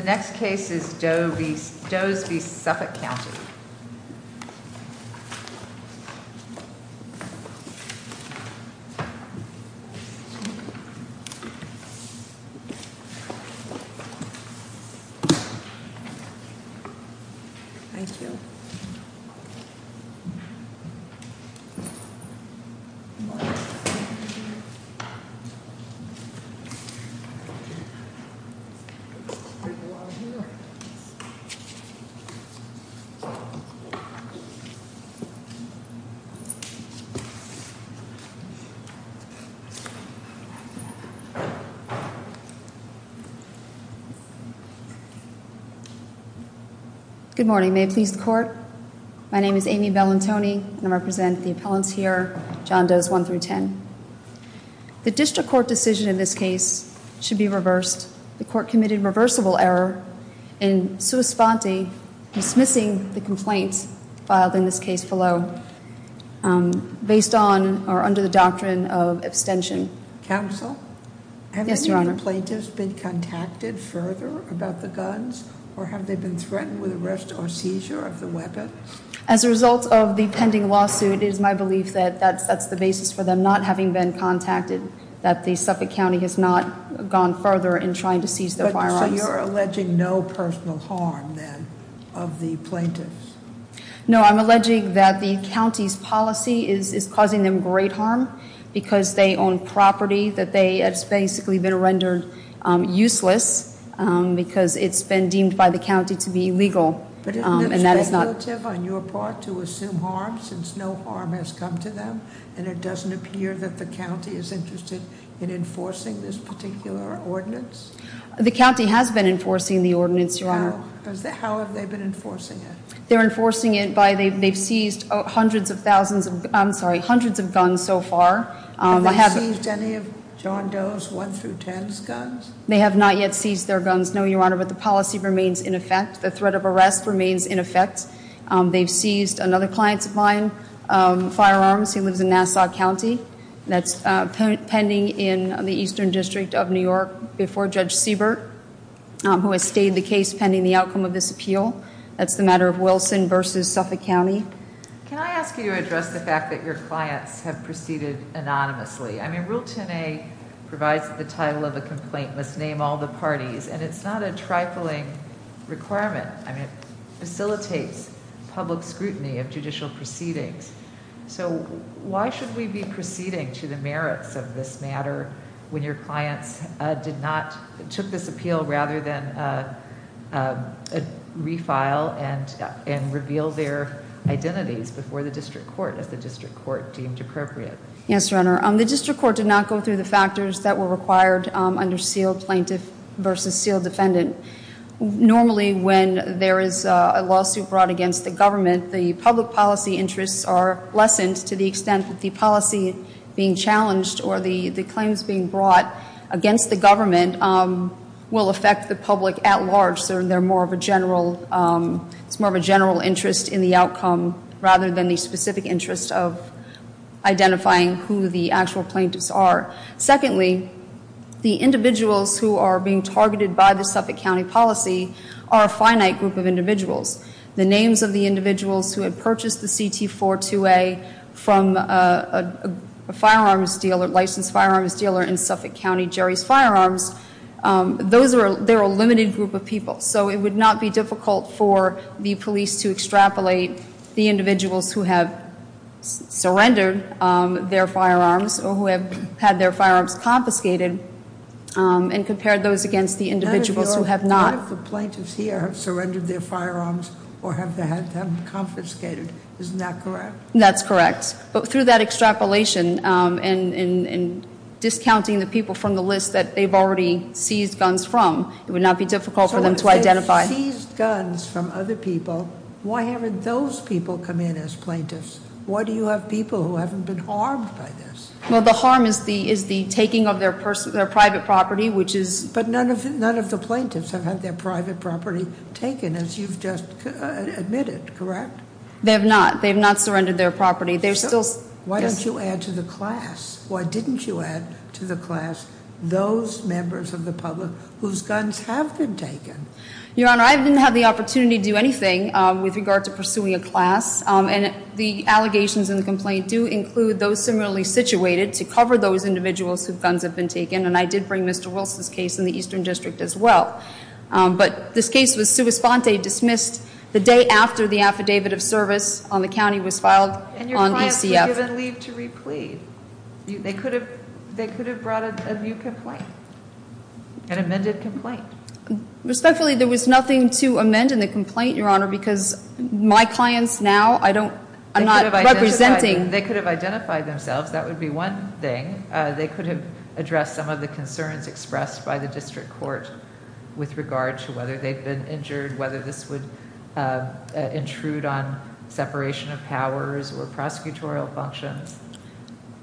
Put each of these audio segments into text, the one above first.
The next case is Does v. Suffolk County Good morning. May it please the court, my name is Amy Bellantoni and I represent the appellants here, John Does 1-10. The district court decision in this case should be reversed. The court committed reversible error in sui sponte, dismissing the complaint filed in this case below, based on or under the doctrine of abstention. Counsel? Yes, Your Honor. Have any of the plaintiffs been contacted further about the guns or have they been threatened with arrest or seizure of the weapons? As a result of the pending lawsuit, it is my belief that that's the basis for them not having been contacted, that the Suffolk County has not gone further in trying to seize their firearms. So you're alleging no personal harm, then, of the plaintiffs? No, I'm alleging that the county's policy is causing them great harm because they own property that has basically been rendered useless because it's been deemed by the county to be illegal. But isn't it speculative on your part to assume harm since no harm has come to them? And it doesn't appear that the county is interested in enforcing this particular ordinance? The county has been enforcing the ordinance, Your Honor. How have they been enforcing it? They're enforcing it by, they've seized hundreds of thousands of, I'm sorry, hundreds of guns so far. Have they seized any of John Does 1-10's guns? They have not yet seized their guns, no, Your Honor, but the policy remains in effect. The threat of arrest remains in effect. They've seized another client's firearms. He lives in Nassau County. That's pending in the Eastern District of New York before Judge Siebert, who has stayed the case pending the outcome of this appeal. That's the matter of Wilson v. Suffolk County. Can I ask you to address the fact that your clients have proceeded anonymously? Rule 10A provides the title of a complaint, must name all the parties, and it's not a trifling requirement. It facilitates public scrutiny of judicial proceedings. Why should we be proceeding to the merits of this matter when your clients did not, took this appeal rather than refile and reveal their identities before the district court as the district court deemed appropriate? Yes, Your Honor, the district court did not go through the factors that were required under sealed plaintiff v. sealed defendant. Normally when there is a lawsuit brought against the government, the public policy interests are lessened to the extent that the policy being challenged or the claims being brought against the government will affect the public at large. It's more of a general interest in the outcome rather than the specific interest of identifying who the actual plaintiffs are. Secondly, the individuals who are being targeted by the Suffolk County policy are a finite group of individuals. The names of the individuals who had purchased the CT-428 from a licensed firearms dealer in Suffolk County, Jerry's Firearms, they're a limited group of people. So it would not be difficult for the police to extrapolate the individuals who have surrendered their firearms or who have had their firearms confiscated and compare those against the individuals who have not. None of the plaintiffs here have surrendered their firearms or have had them confiscated, isn't that correct? That's correct. But through that extrapolation and discounting the people from the list that they've already seized guns from, it would not be difficult for them to identify. So if they've seized guns from other people, why haven't those people come in as plaintiffs? Why do you have people who haven't been harmed by this? Well, the harm is the taking of their private property, which is- None of the plaintiffs have had their private property taken, as you've just admitted, correct? They have not. They have not surrendered their property. They're still- Why don't you add to the class? Why didn't you add to the class those members of the public whose guns have been taken? Your Honor, I didn't have the opportunity to do anything with regard to pursuing a class. And the allegations in the complaint do include those similarly situated to cover those individuals whose guns have been taken. And I did bring Mr. Wilson's case in the Eastern District as well. But this case was sua sponte, dismissed the day after the affidavit of service on the county was filed on ECF. And your clients were given leave to replead. They could have brought a new complaint, an amended complaint. Respectfully, there was nothing to amend in the complaint, Your Honor, because my clients now are not representing- They could have identified themselves. That would be one thing. They could have addressed some of the concerns expressed by the district court with regard to whether they've been injured, whether this would intrude on separation of powers or prosecutorial functions.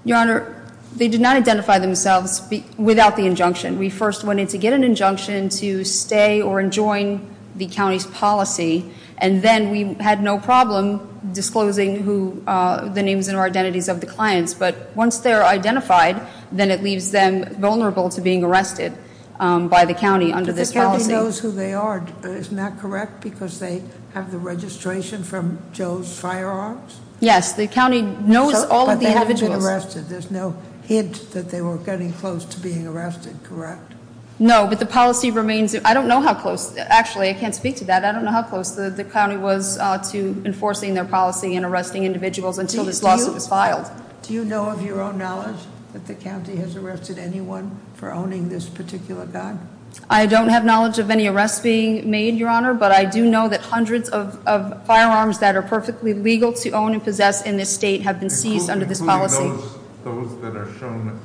Your Honor, they did not identify themselves without the injunction. We first wanted to get an injunction to stay or enjoin the county's policy. And then we had no problem disclosing the names and identities of the clients. But once they're identified, then it leaves them vulnerable to being arrested by the county under this policy. But the county knows who they are. Isn't that correct? Because they have the registration from Joe's Firearms? Yes, the county knows all of the individuals. But they haven't been arrested. There's no hint that they were getting close to being arrested, correct? No, but the policy remains. I don't know how close. Actually, I can't speak to that. I don't know how close the county was to enforcing their policy and arresting individuals until this lawsuit was filed. Do you know of your own knowledge that the county has arrested anyone for owning this particular gun? I don't have knowledge of any arrests being made, Your Honor. But I do know that hundreds of firearms that are perfectly legal to own and possess in this state have been seized under this policy. Including those that are shown,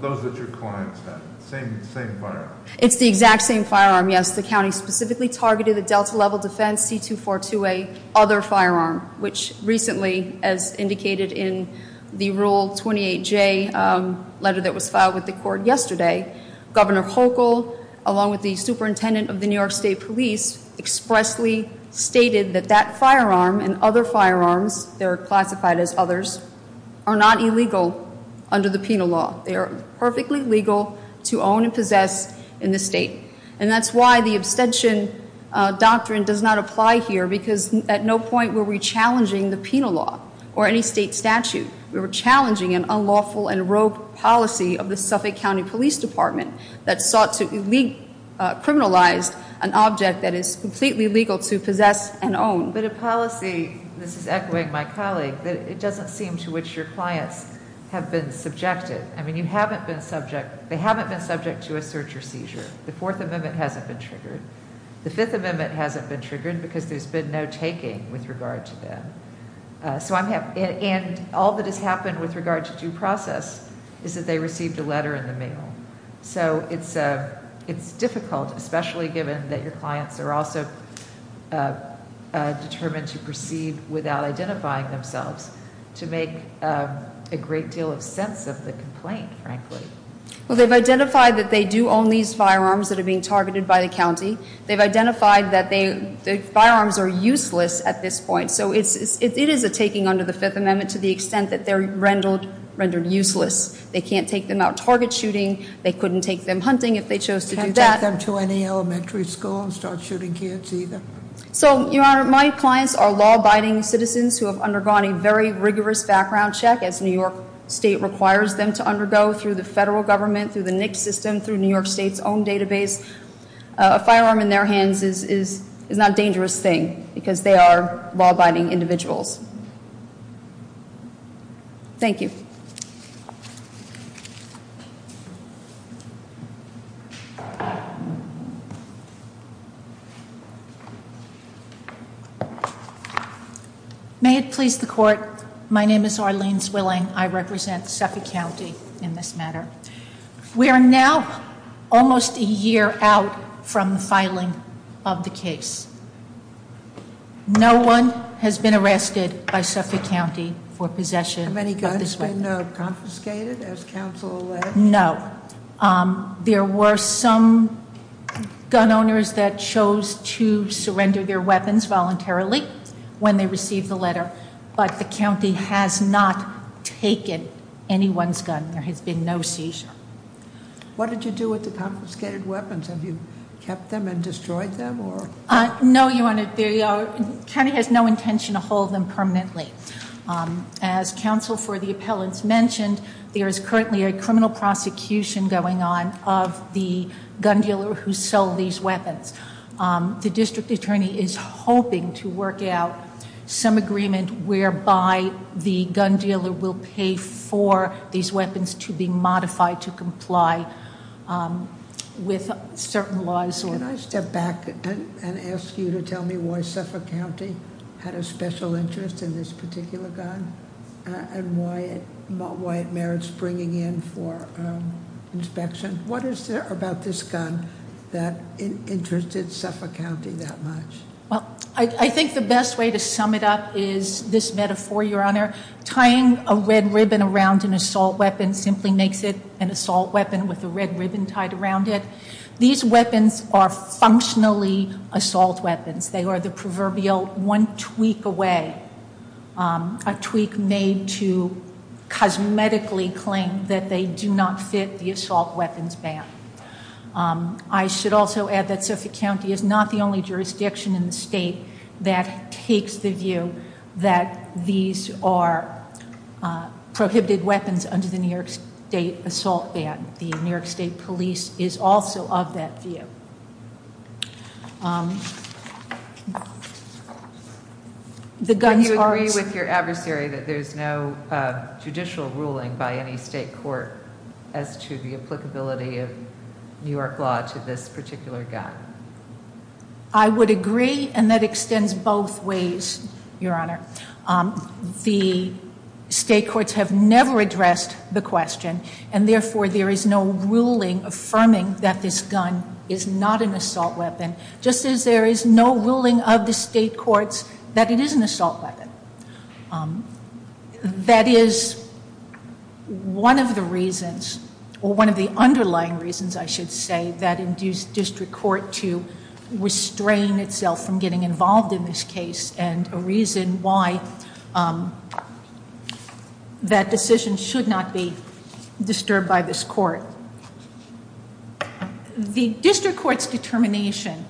those that your clients have, same firearms? It's the exact same firearm, yes. The county specifically targeted the Delta Level Defense C242A other firearm, which recently, as indicated in the Rule 28J letter that was filed with the court yesterday, Governor Hochul, along with the superintendent of the New York State Police, expressly stated that that firearm and other firearms, they're classified as others, are not illegal under the penal law. They are perfectly legal to own and possess in this state. And that's why the abstention doctrine does not apply here, because at no point were we challenging the penal law or any state statute. We were challenging an unlawful and rogue policy of the Suffolk County Police Department that sought to criminalize an object that is completely legal to possess and own. But a policy, this is echoing my colleague, that it doesn't seem to which your clients have been subjected. I mean, you haven't been subject, they haven't been subject to a search or seizure. The Fourth Amendment hasn't been triggered. The Fifth Amendment hasn't been triggered because there's been no taking with regard to them. And all that has happened with regard to due process is that they received a letter in the mail. So it's difficult, especially given that your clients are also determined to proceed without identifying themselves, to make a great deal of sense of the complaint, frankly. Well, they've identified that they do own these firearms that are being targeted by the county. They've identified that the firearms are useless at this point. So it is a taking under the Fifth Amendment to the extent that they're rendered useless. They can't take them out target shooting. They couldn't take them hunting if they chose to do that. Can't take them to any elementary school and start shooting kids either. So, Your Honor, my clients are law-abiding citizens who have undergone a very rigorous background check, as New York State requires them to undergo through the federal government, through the NICS system, through New York State's own database. A firearm in their hands is not a dangerous thing because they are law-abiding individuals. Thank you. May it please the court, my name is Arlene Zwilling. I represent Suffolk County in this matter. We are now almost a year out from the filing of the case. No one has been arrested by Suffolk County for possession of this weapon. Have any guns been confiscated, as counsel alleged? No. There were some gun owners that chose to surrender their weapons voluntarily when they received the letter. But the county has not taken anyone's gun. There has been no seizure. What did you do with the confiscated weapons? Have you kept them and destroyed them? No, Your Honor. The county has no intention to hold them permanently. As counsel for the appellants mentioned, there is currently a criminal prosecution going on of the gun dealer who sold these weapons. The district attorney is hoping to work out some agreement whereby the gun dealer will pay for these weapons to be modified to comply with certain laws. Can I step back and ask you to tell me why Suffolk County had a special interest in this particular gun? And why it merits bringing in for inspection? What is there about this gun that interested Suffolk County that much? Well, I think the best way to sum it up is this metaphor, Your Honor. Tying a red ribbon around an assault weapon simply makes it an assault weapon with a red ribbon tied around it. These weapons are functionally assault weapons. They are the proverbial one tweak away. A tweak made to cosmetically claim that they do not fit the assault weapons ban. I should also add that Suffolk County is not the only jurisdiction in the state that takes the view that these are prohibited weapons under the New York State assault ban. The New York State police is also of that view. Do you agree with your adversary that there's no judicial ruling by any state court as to the applicability of New York law to this particular gun? I would agree, and that extends both ways, Your Honor. The state courts have never addressed the question, and therefore there is no ruling affirming that this gun is not an assault weapon, just as there is no ruling of the state courts that it is an assault weapon. That is one of the reasons, or one of the underlying reasons, I should say, that induced district court to restrain itself from getting involved in this case, and a reason why that decision should not be disturbed by this court. The district court's determination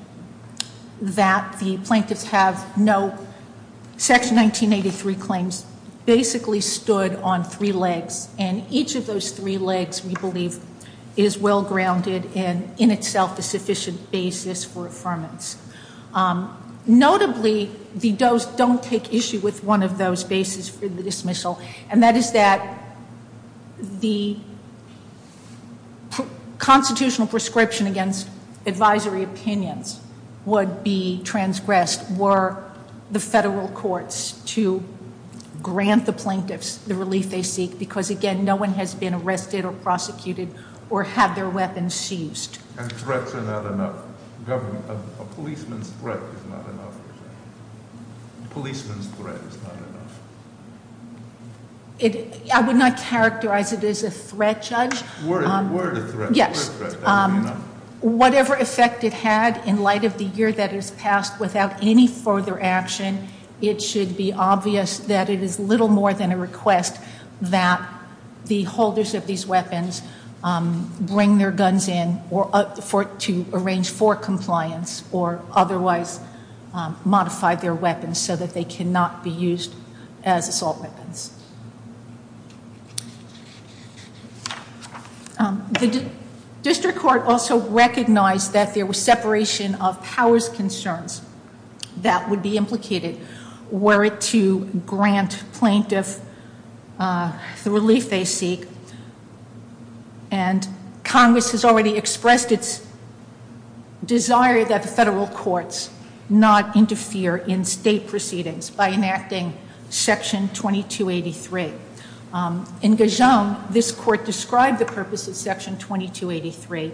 that the plaintiffs have no Section 1983 claims basically stood on three legs, and each of those three legs, we believe, is well-grounded and in itself a sufficient basis for affirmance. Notably, the does don't take issue with one of those bases for the dismissal, and that is that the constitutional prescription against advisory opinions would be transgressed were the federal courts to grant the plaintiffs the relief they seek, because, again, no one has been arrested or prosecuted or had their weapons seized. And threats are not enough. A policeman's threat is not enough. A policeman's threat is not enough. I would not characterize it as a threat, Judge. Were it a threat? Yes. Whatever effect it had in light of the year that has passed without any further action, it should be obvious that it is little more than a request that the holders of these weapons bring their guns in to arrange for compliance or otherwise modify their weapons so that they cannot be used as assault weapons. The district court also recognized that there was separation of powers concerns that would be implicated were it to grant plaintiffs the relief they seek, and Congress has already expressed its desire that the federal courts not interfere in state proceedings by enacting Section 2283. In Gijon, this court described the purpose of Section 2283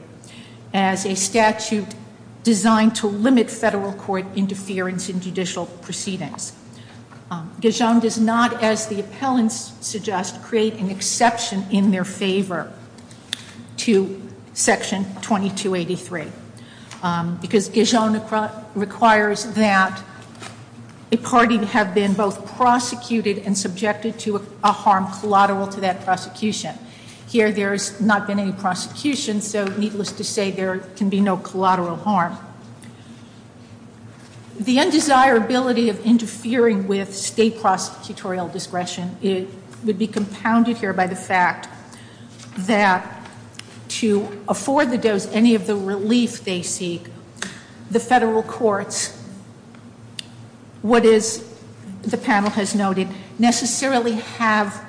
as a statute designed to limit federal court interference in judicial proceedings. Gijon does not, as the appellants suggest, create an exception in their favor to Section 2283, because Gijon requires that a party have been both prosecuted and subjected to a harm collateral to that prosecution. Here, there has not been any prosecution, so needless to say, there can be no collateral harm. The undesirability of interfering with state prosecutorial discretion would be compounded here by the fact that to afford the does any of the relief they seek, the federal courts, what is the panel has noted, necessarily have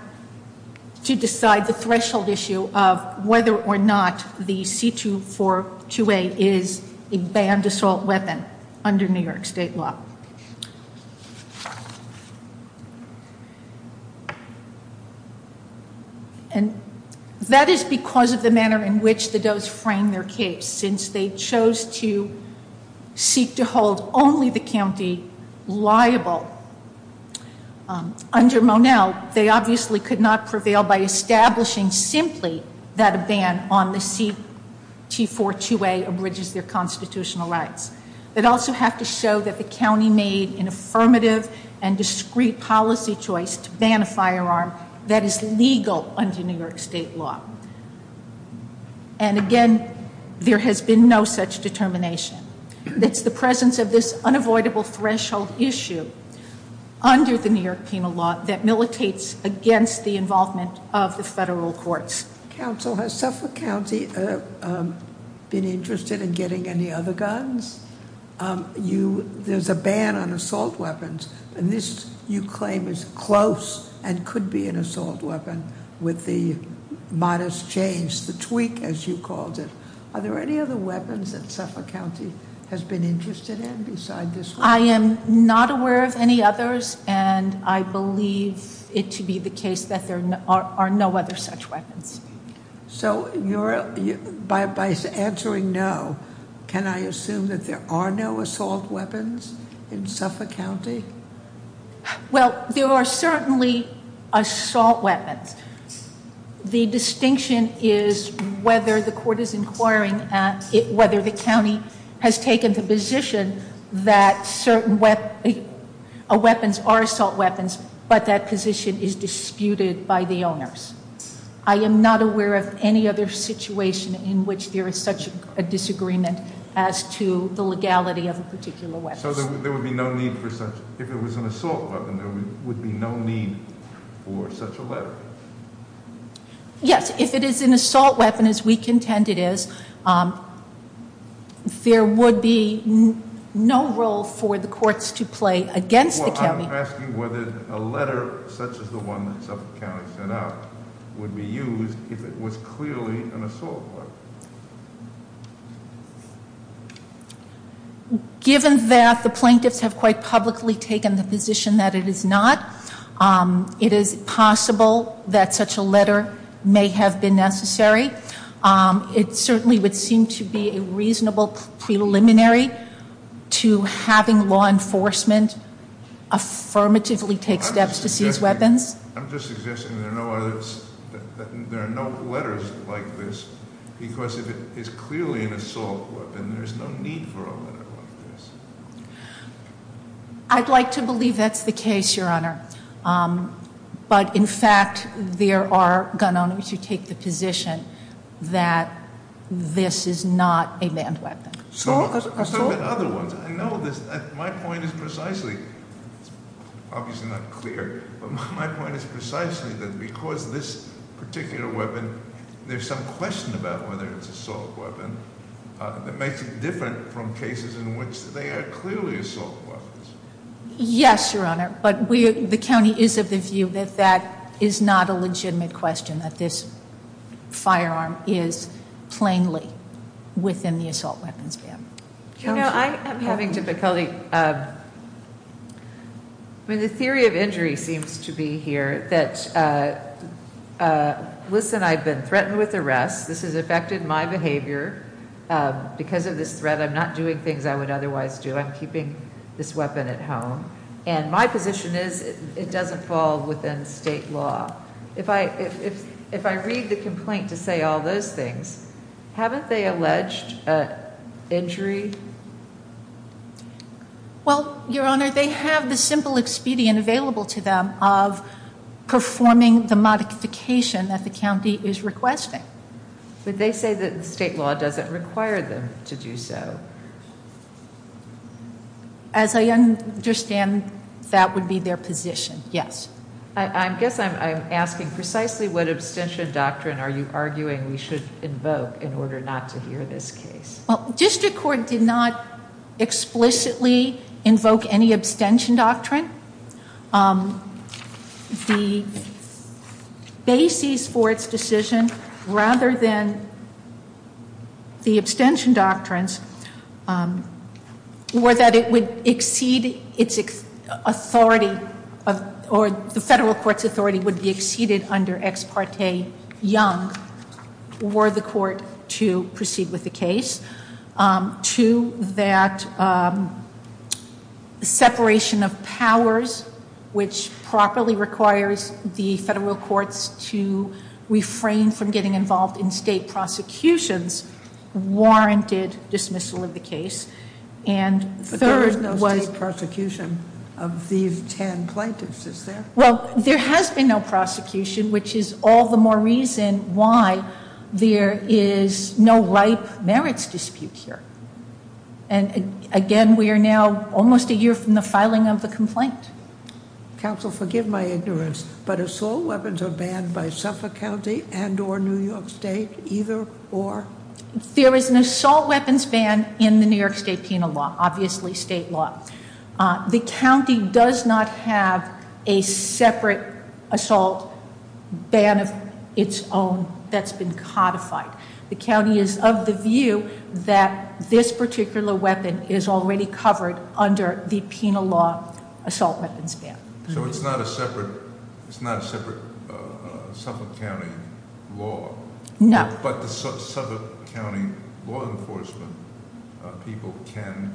to decide the threshold issue of whether or not the C2428 is a banned assault weapon under New York State law. And that is because of the manner in which the does frame their case. Since they chose to seek to hold only the county liable under Monell, they obviously could not prevail by establishing simply that a ban on the C2428 abridges their constitutional rights. They'd also have to show that the county made an affirmative and discreet policy choice to ban a firearm that is legal under New York State law. And again, there has been no such determination. It's the presence of this unavoidable threshold issue under the New York penal law that militates against the involvement of the federal courts. Council, has Suffolk County been interested in getting any other guns? There's a ban on assault weapons, and this, you claim, is close and could be an assault weapon with the modest change, the tweak, as you called it. Are there any other weapons that Suffolk County has been interested in besides this one? I am not aware of any others, and I believe it to be the case that there are no other such weapons. So by answering no, can I assume that there are no assault weapons in Suffolk County? Well, there are certainly assault weapons. The distinction is whether the court is inquiring at whether the county has taken the position that certain weapons are assault weapons, but that position is disputed by the owners. I am not aware of any other situation in which there is such a disagreement as to the legality of a particular weapon. So there would be no need for such, if it was an assault weapon, there would be no need for such a letter? Yes, if it is an assault weapon, as we contend it is, there would be no role for the courts to play against the county. Well, I'm asking whether a letter such as the one that Suffolk County sent out would be used if it was clearly an assault weapon. Given that the plaintiffs have quite publicly taken the position that it is not, it is possible that such a letter may have been necessary. It certainly would seem to be a reasonable preliminary to having law enforcement affirmatively take steps to seize weapons. I'm just suggesting that there are no letters like this, because if it is clearly an assault weapon, there's no need for a letter like this. I'd like to believe that's the case, Your Honor. But in fact, there are gun owners who take the position that this is not a manned weapon. Assault? I know this, my point is precisely, it's obviously not clear, but my point is precisely that because this particular weapon, there's some question about whether it's an assault weapon. That makes it different from cases in which they are clearly assault weapons. Yes, Your Honor, but the county is of the view that that is not a legitimate question, that this firearm is plainly within the assault weapons ban. You know, I am having difficulty. I mean, the theory of injury seems to be here that, listen, I've been threatened with arrest. This has affected my behavior. Because of this threat, I'm not doing things I would otherwise do. I'm keeping this weapon at home. And my position is it doesn't fall within state law. If I read the complaint to say all those things, haven't they alleged injury? Well, Your Honor, they have the simple expedient available to them of performing the modification that the county is requesting. But they say that the state law doesn't require them to do so. As I understand, that would be their position, yes. I guess I'm asking precisely what abstention doctrine are you arguing we should invoke in order not to hear this case? Well, district court did not explicitly invoke any abstention doctrine. The basis for its decision, rather than the abstention doctrines, were that it would exceed its authority, or the federal court's authority, would be exceeded under Ex Parte Young were the court to proceed with the case. Two, that separation of powers, which properly requires the federal courts to refrain from getting involved in state prosecutions, warranted dismissal of the case. But there was no state prosecution of these ten plaintiffs, is there? Well, there has been no prosecution, which is all the more reason why there is no ripe merits dispute here. And again, we are now almost a year from the filing of the complaint. Counsel, forgive my ignorance, but assault weapons are banned by Suffolk County and or New York State, either or? There is an assault weapons ban in the New York State penal law, obviously state law. The county does not have a separate assault ban of its own that's been codified. The county is of the view that this particular weapon is already covered under the penal law assault weapons ban. So it's not a separate Suffolk County law. No. But the Suffolk County law enforcement people can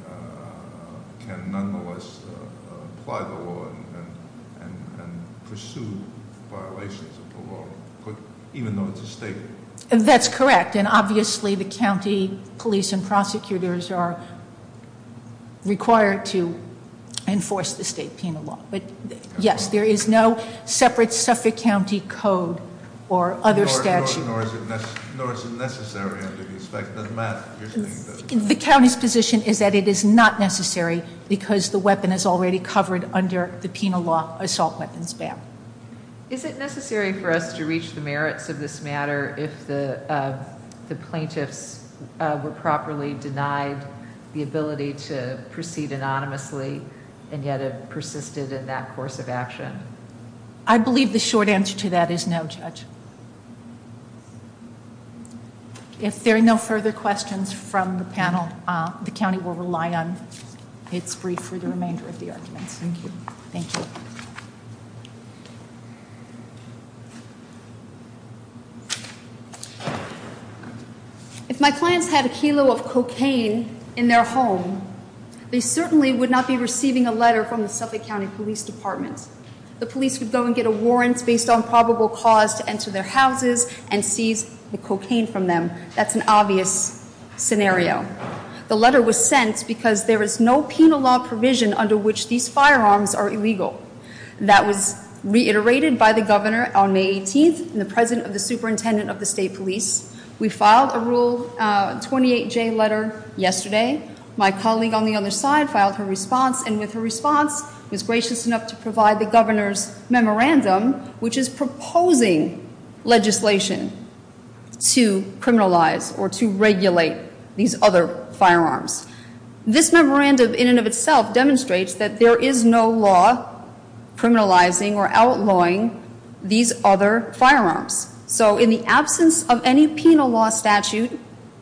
nonetheless apply the law and pursue violations of the law, even though it's a state law. That's correct, and obviously the county police and prosecutors are required to enforce the state penal law. But yes, there is no separate Suffolk County code or other statute. No, nor is it necessary under the expected math. The county's position is that it is not necessary because the weapon is already covered under the penal law assault weapons ban. Is it necessary for us to reach the merits of this matter if the plaintiffs were properly denied the ability to proceed anonymously and yet it persisted in that course of action? I believe the short answer to that is no, Judge. If there are no further questions from the panel, the county will rely on its brief for the remainder of the arguments. Thank you. Thank you. If my clients had a kilo of cocaine in their home, they certainly would not be receiving a letter from the Suffolk County Police Department. The police would go and get a warrant based on probable cause to enter their houses and seize the cocaine from them. That's an obvious scenario. The letter was sent because there is no penal law provision under which these firearms are illegal. That was reiterated by the governor on May 18th and the president of the superintendent of the state police. We filed a Rule 28J letter yesterday. My colleague on the other side filed her response and with her response was gracious enough to provide the governor's memorandum, which is proposing legislation to criminalize or to regulate these other firearms. This memorandum in and of itself demonstrates that there is no law criminalizing or outlawing these other firearms. So in the absence of any penal law statute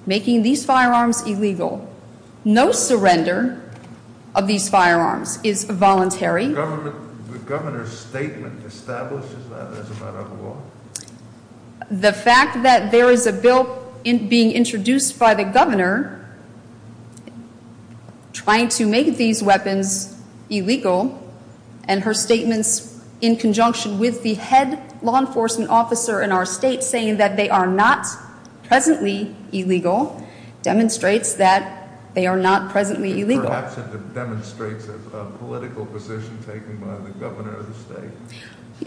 making these firearms illegal, no surrender of these firearms is voluntary. The governor's statement establishes that as a matter of law? The fact that there is a bill being introduced by the governor trying to make these weapons illegal and her statements in conjunction with the head law enforcement officer in our state saying that they are not presently illegal, demonstrates that they are not presently illegal. Perhaps it demonstrates a political position taken by the governor of the state.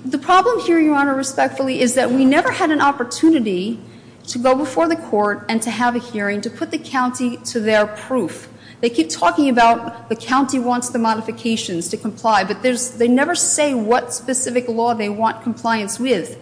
The problem here, Your Honor, respectfully, is that we never had an opportunity to go before the court and to have a hearing to put the county to their proof. They keep talking about the county wants the modifications to comply, but they never say what specific law they want compliance with.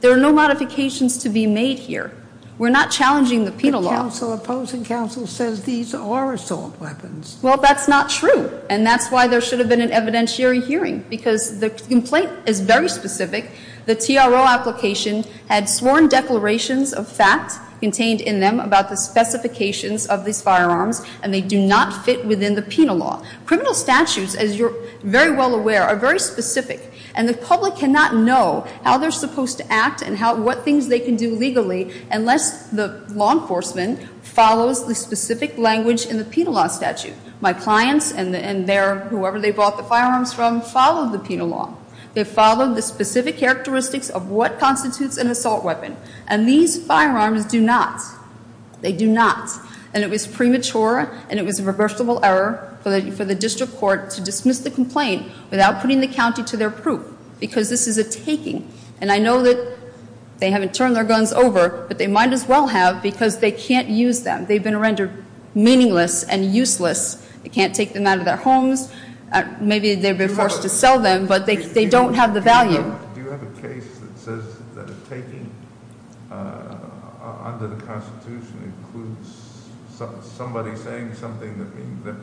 There are no modifications to be made here. We're not challenging the penal law. The opposing counsel says these are assault weapons. Well, that's not true, and that's why there should have been an evidentiary hearing, because the complaint is very specific. The TRO application had sworn declarations of facts contained in them about the specifications of these firearms, and they do not fit within the penal law. Criminal statutes, as you're very well aware, are very specific, and the public cannot know how they're supposed to act and what things they can do legally unless the law enforcement follows the specific language in the penal law statute. My clients and whoever they bought the firearms from followed the penal law. They followed the specific characteristics of what constitutes an assault weapon, and these firearms do not. They do not. And it was premature, and it was a reversible error for the district court to dismiss the complaint without putting the county to their proof, because this is a taking. And I know that they haven't turned their guns over, but they might as well have, because they can't use them. They've been rendered meaningless and useless. They can't take them out of their homes. Maybe they've been forced to sell them, but they don't have the value. Do you have a case that says that a taking under the Constitution includes somebody saying something that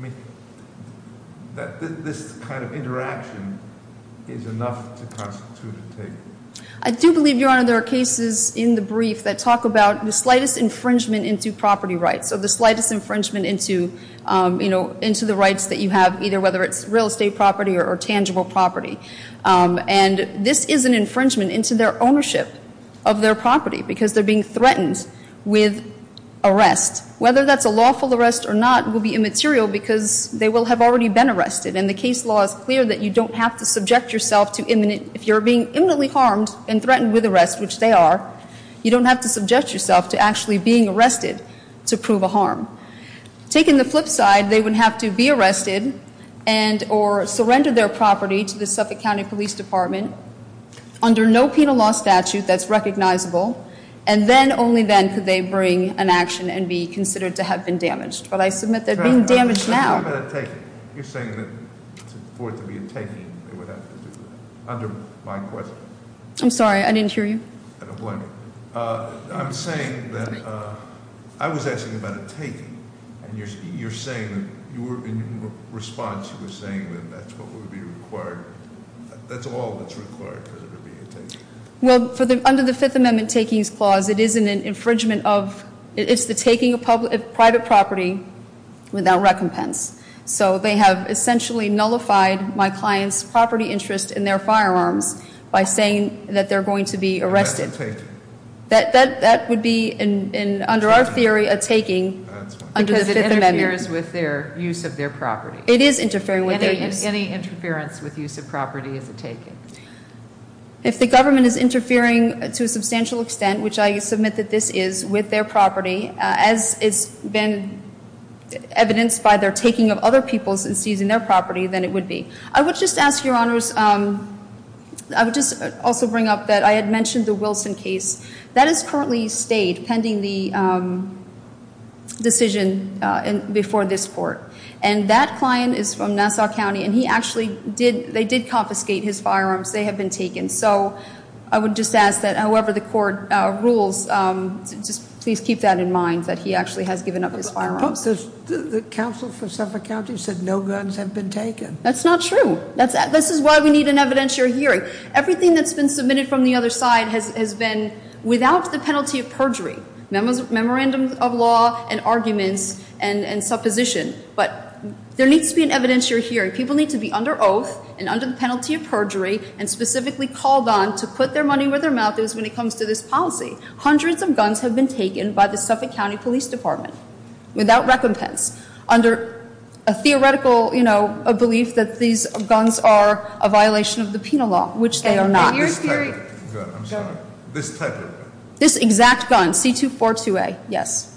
means that this kind of interaction is enough to constitute a taking? I do believe, Your Honor, there are cases in the brief that talk about the slightest infringement into property rights, so the slightest infringement into the rights that you have, either whether it's real estate property or tangible property. And this is an infringement into their ownership of their property, because they're being threatened with arrest. Whether that's a lawful arrest or not will be immaterial, because they will have already been arrested. And the case law is clear that you don't have to subject yourself to imminent, if you're being imminently harmed and threatened with arrest, which they are, you don't have to subject yourself to actually being arrested to prove a harm. Taking the flip side, they would have to be arrested and or surrender their property to the Suffolk County Police Department under no penal law statute that's recognizable. And then, only then, could they bring an action and be considered to have been damaged. But I submit they're being damaged now. You're saying that for it to be a taking, they would have to do that. Under my question. I'm sorry, I didn't hear you. I don't blame you. I'm saying that, I was asking about a taking. And you're saying, in your response, you were saying that that's what would be required. That's all that's required for there to be a taking. Well, under the Fifth Amendment Takings Clause, it is an infringement of, it's the taking of private property without recompense. So they have essentially nullified my client's property interest in their firearms by saying that they're going to be arrested. That would be, under our theory, a taking under the Fifth Amendment. Because it interferes with their use of their property. It is interfering with their use. Any interference with use of property is a taking. If the government is interfering to a substantial extent, which I submit that this is, with their property, as it's been evidenced by their taking of other people's and seizing their property, then it would be. I would just ask, Your Honors, I would just also bring up that I had mentioned the Wilson case. That has currently stayed pending the decision before this court. And that client is from Nassau County, and he actually did, they did confiscate his firearms. They have been taken. So I would just ask that however the court rules, just please keep that in mind, that he actually has given up his firearms. The counsel for Suffolk County said no guns have been taken. That's not true. This is why we need an evidentiary hearing. Everything that's been submitted from the other side has been without the penalty of perjury. Memorandums of law and arguments and supposition. But there needs to be an evidentiary hearing. People need to be under oath and under the penalty of perjury and specifically called on to put their money where their mouth is when it comes to this policy. Hundreds of guns have been taken by the Suffolk County Police Department without recompense. Under a theoretical belief that these guns are a violation of the penal law, which they are not. Your theory- This type of gun, I'm sorry. This type of gun. This exact gun, C242A, yes.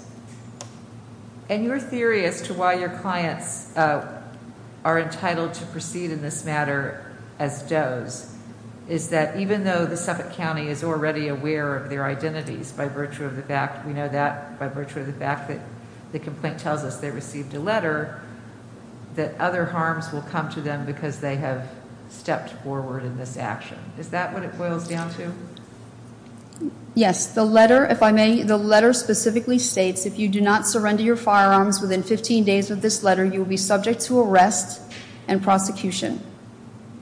And your theory as to why your clients are entitled to proceed in this matter as does, is that even though the Suffolk County is already aware of their identities by virtue of the fact, we know that, by virtue of the fact that the complaint tells us they received a letter, that other harms will come to them because they have stepped forward in this action. Is that what it boils down to? Yes, the letter, if I may, the letter specifically states, if you do not surrender your firearms within 15 days of this letter, you will be subject to arrest and prosecution.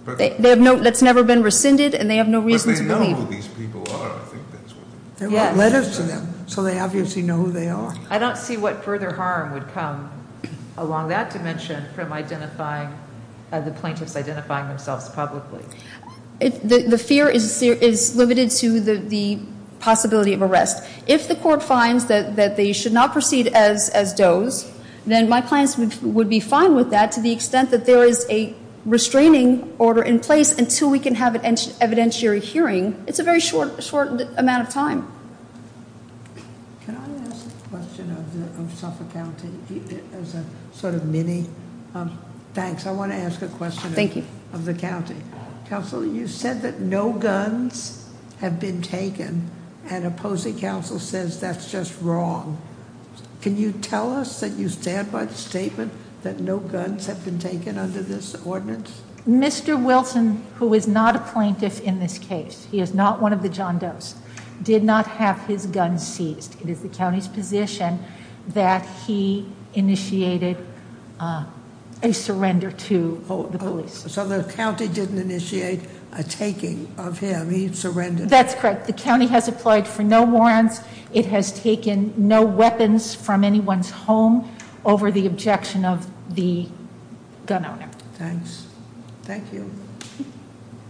They have no, that's never been rescinded, and they have no reason to believe- But they know who these people are, I think that's what- They wrote letters to them, so they obviously know who they are. I don't see what further harm would come along that dimension from identifying, the plaintiffs identifying themselves publicly. The fear is limited to the possibility of arrest. If the court finds that they should not proceed as does, then my clients would be fine with that to the extent that there is a restraining order in place until we can have an evidentiary hearing. It's a very short amount of time. Can I ask a question of Suffolk County as a sort of mini? Thanks, I want to ask a question of the county. Thank you. Counsel, you said that no guns have been taken, and opposing counsel says that's just wrong. Can you tell us that you stand by the statement that no guns have been taken under this ordinance? Mr. Wilson, who is not a plaintiff in this case, he is not one of the John Does, did not have his gun seized. It is the county's position that he initiated a surrender to the police. So the county didn't initiate a taking of him, he surrendered? That's correct. The county has applied for no warrants. It has taken no weapons from anyone's home over the objection of the gun owner. Thanks. Thank you.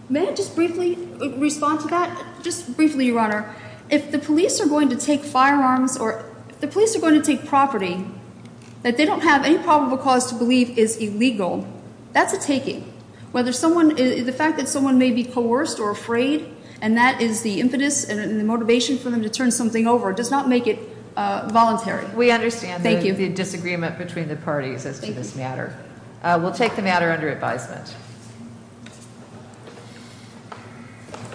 May I just briefly respond to that? Just briefly, Your Honor. If the police are going to take firearms or if the police are going to take property that they don't have any probable cause to believe is illegal, that's a taking. The fact that someone may be coerced or afraid and that is the impetus and the motivation for them to turn something over does not make it voluntary. We understand the disagreement between the parties as to this matter. We'll take the matter under advisement.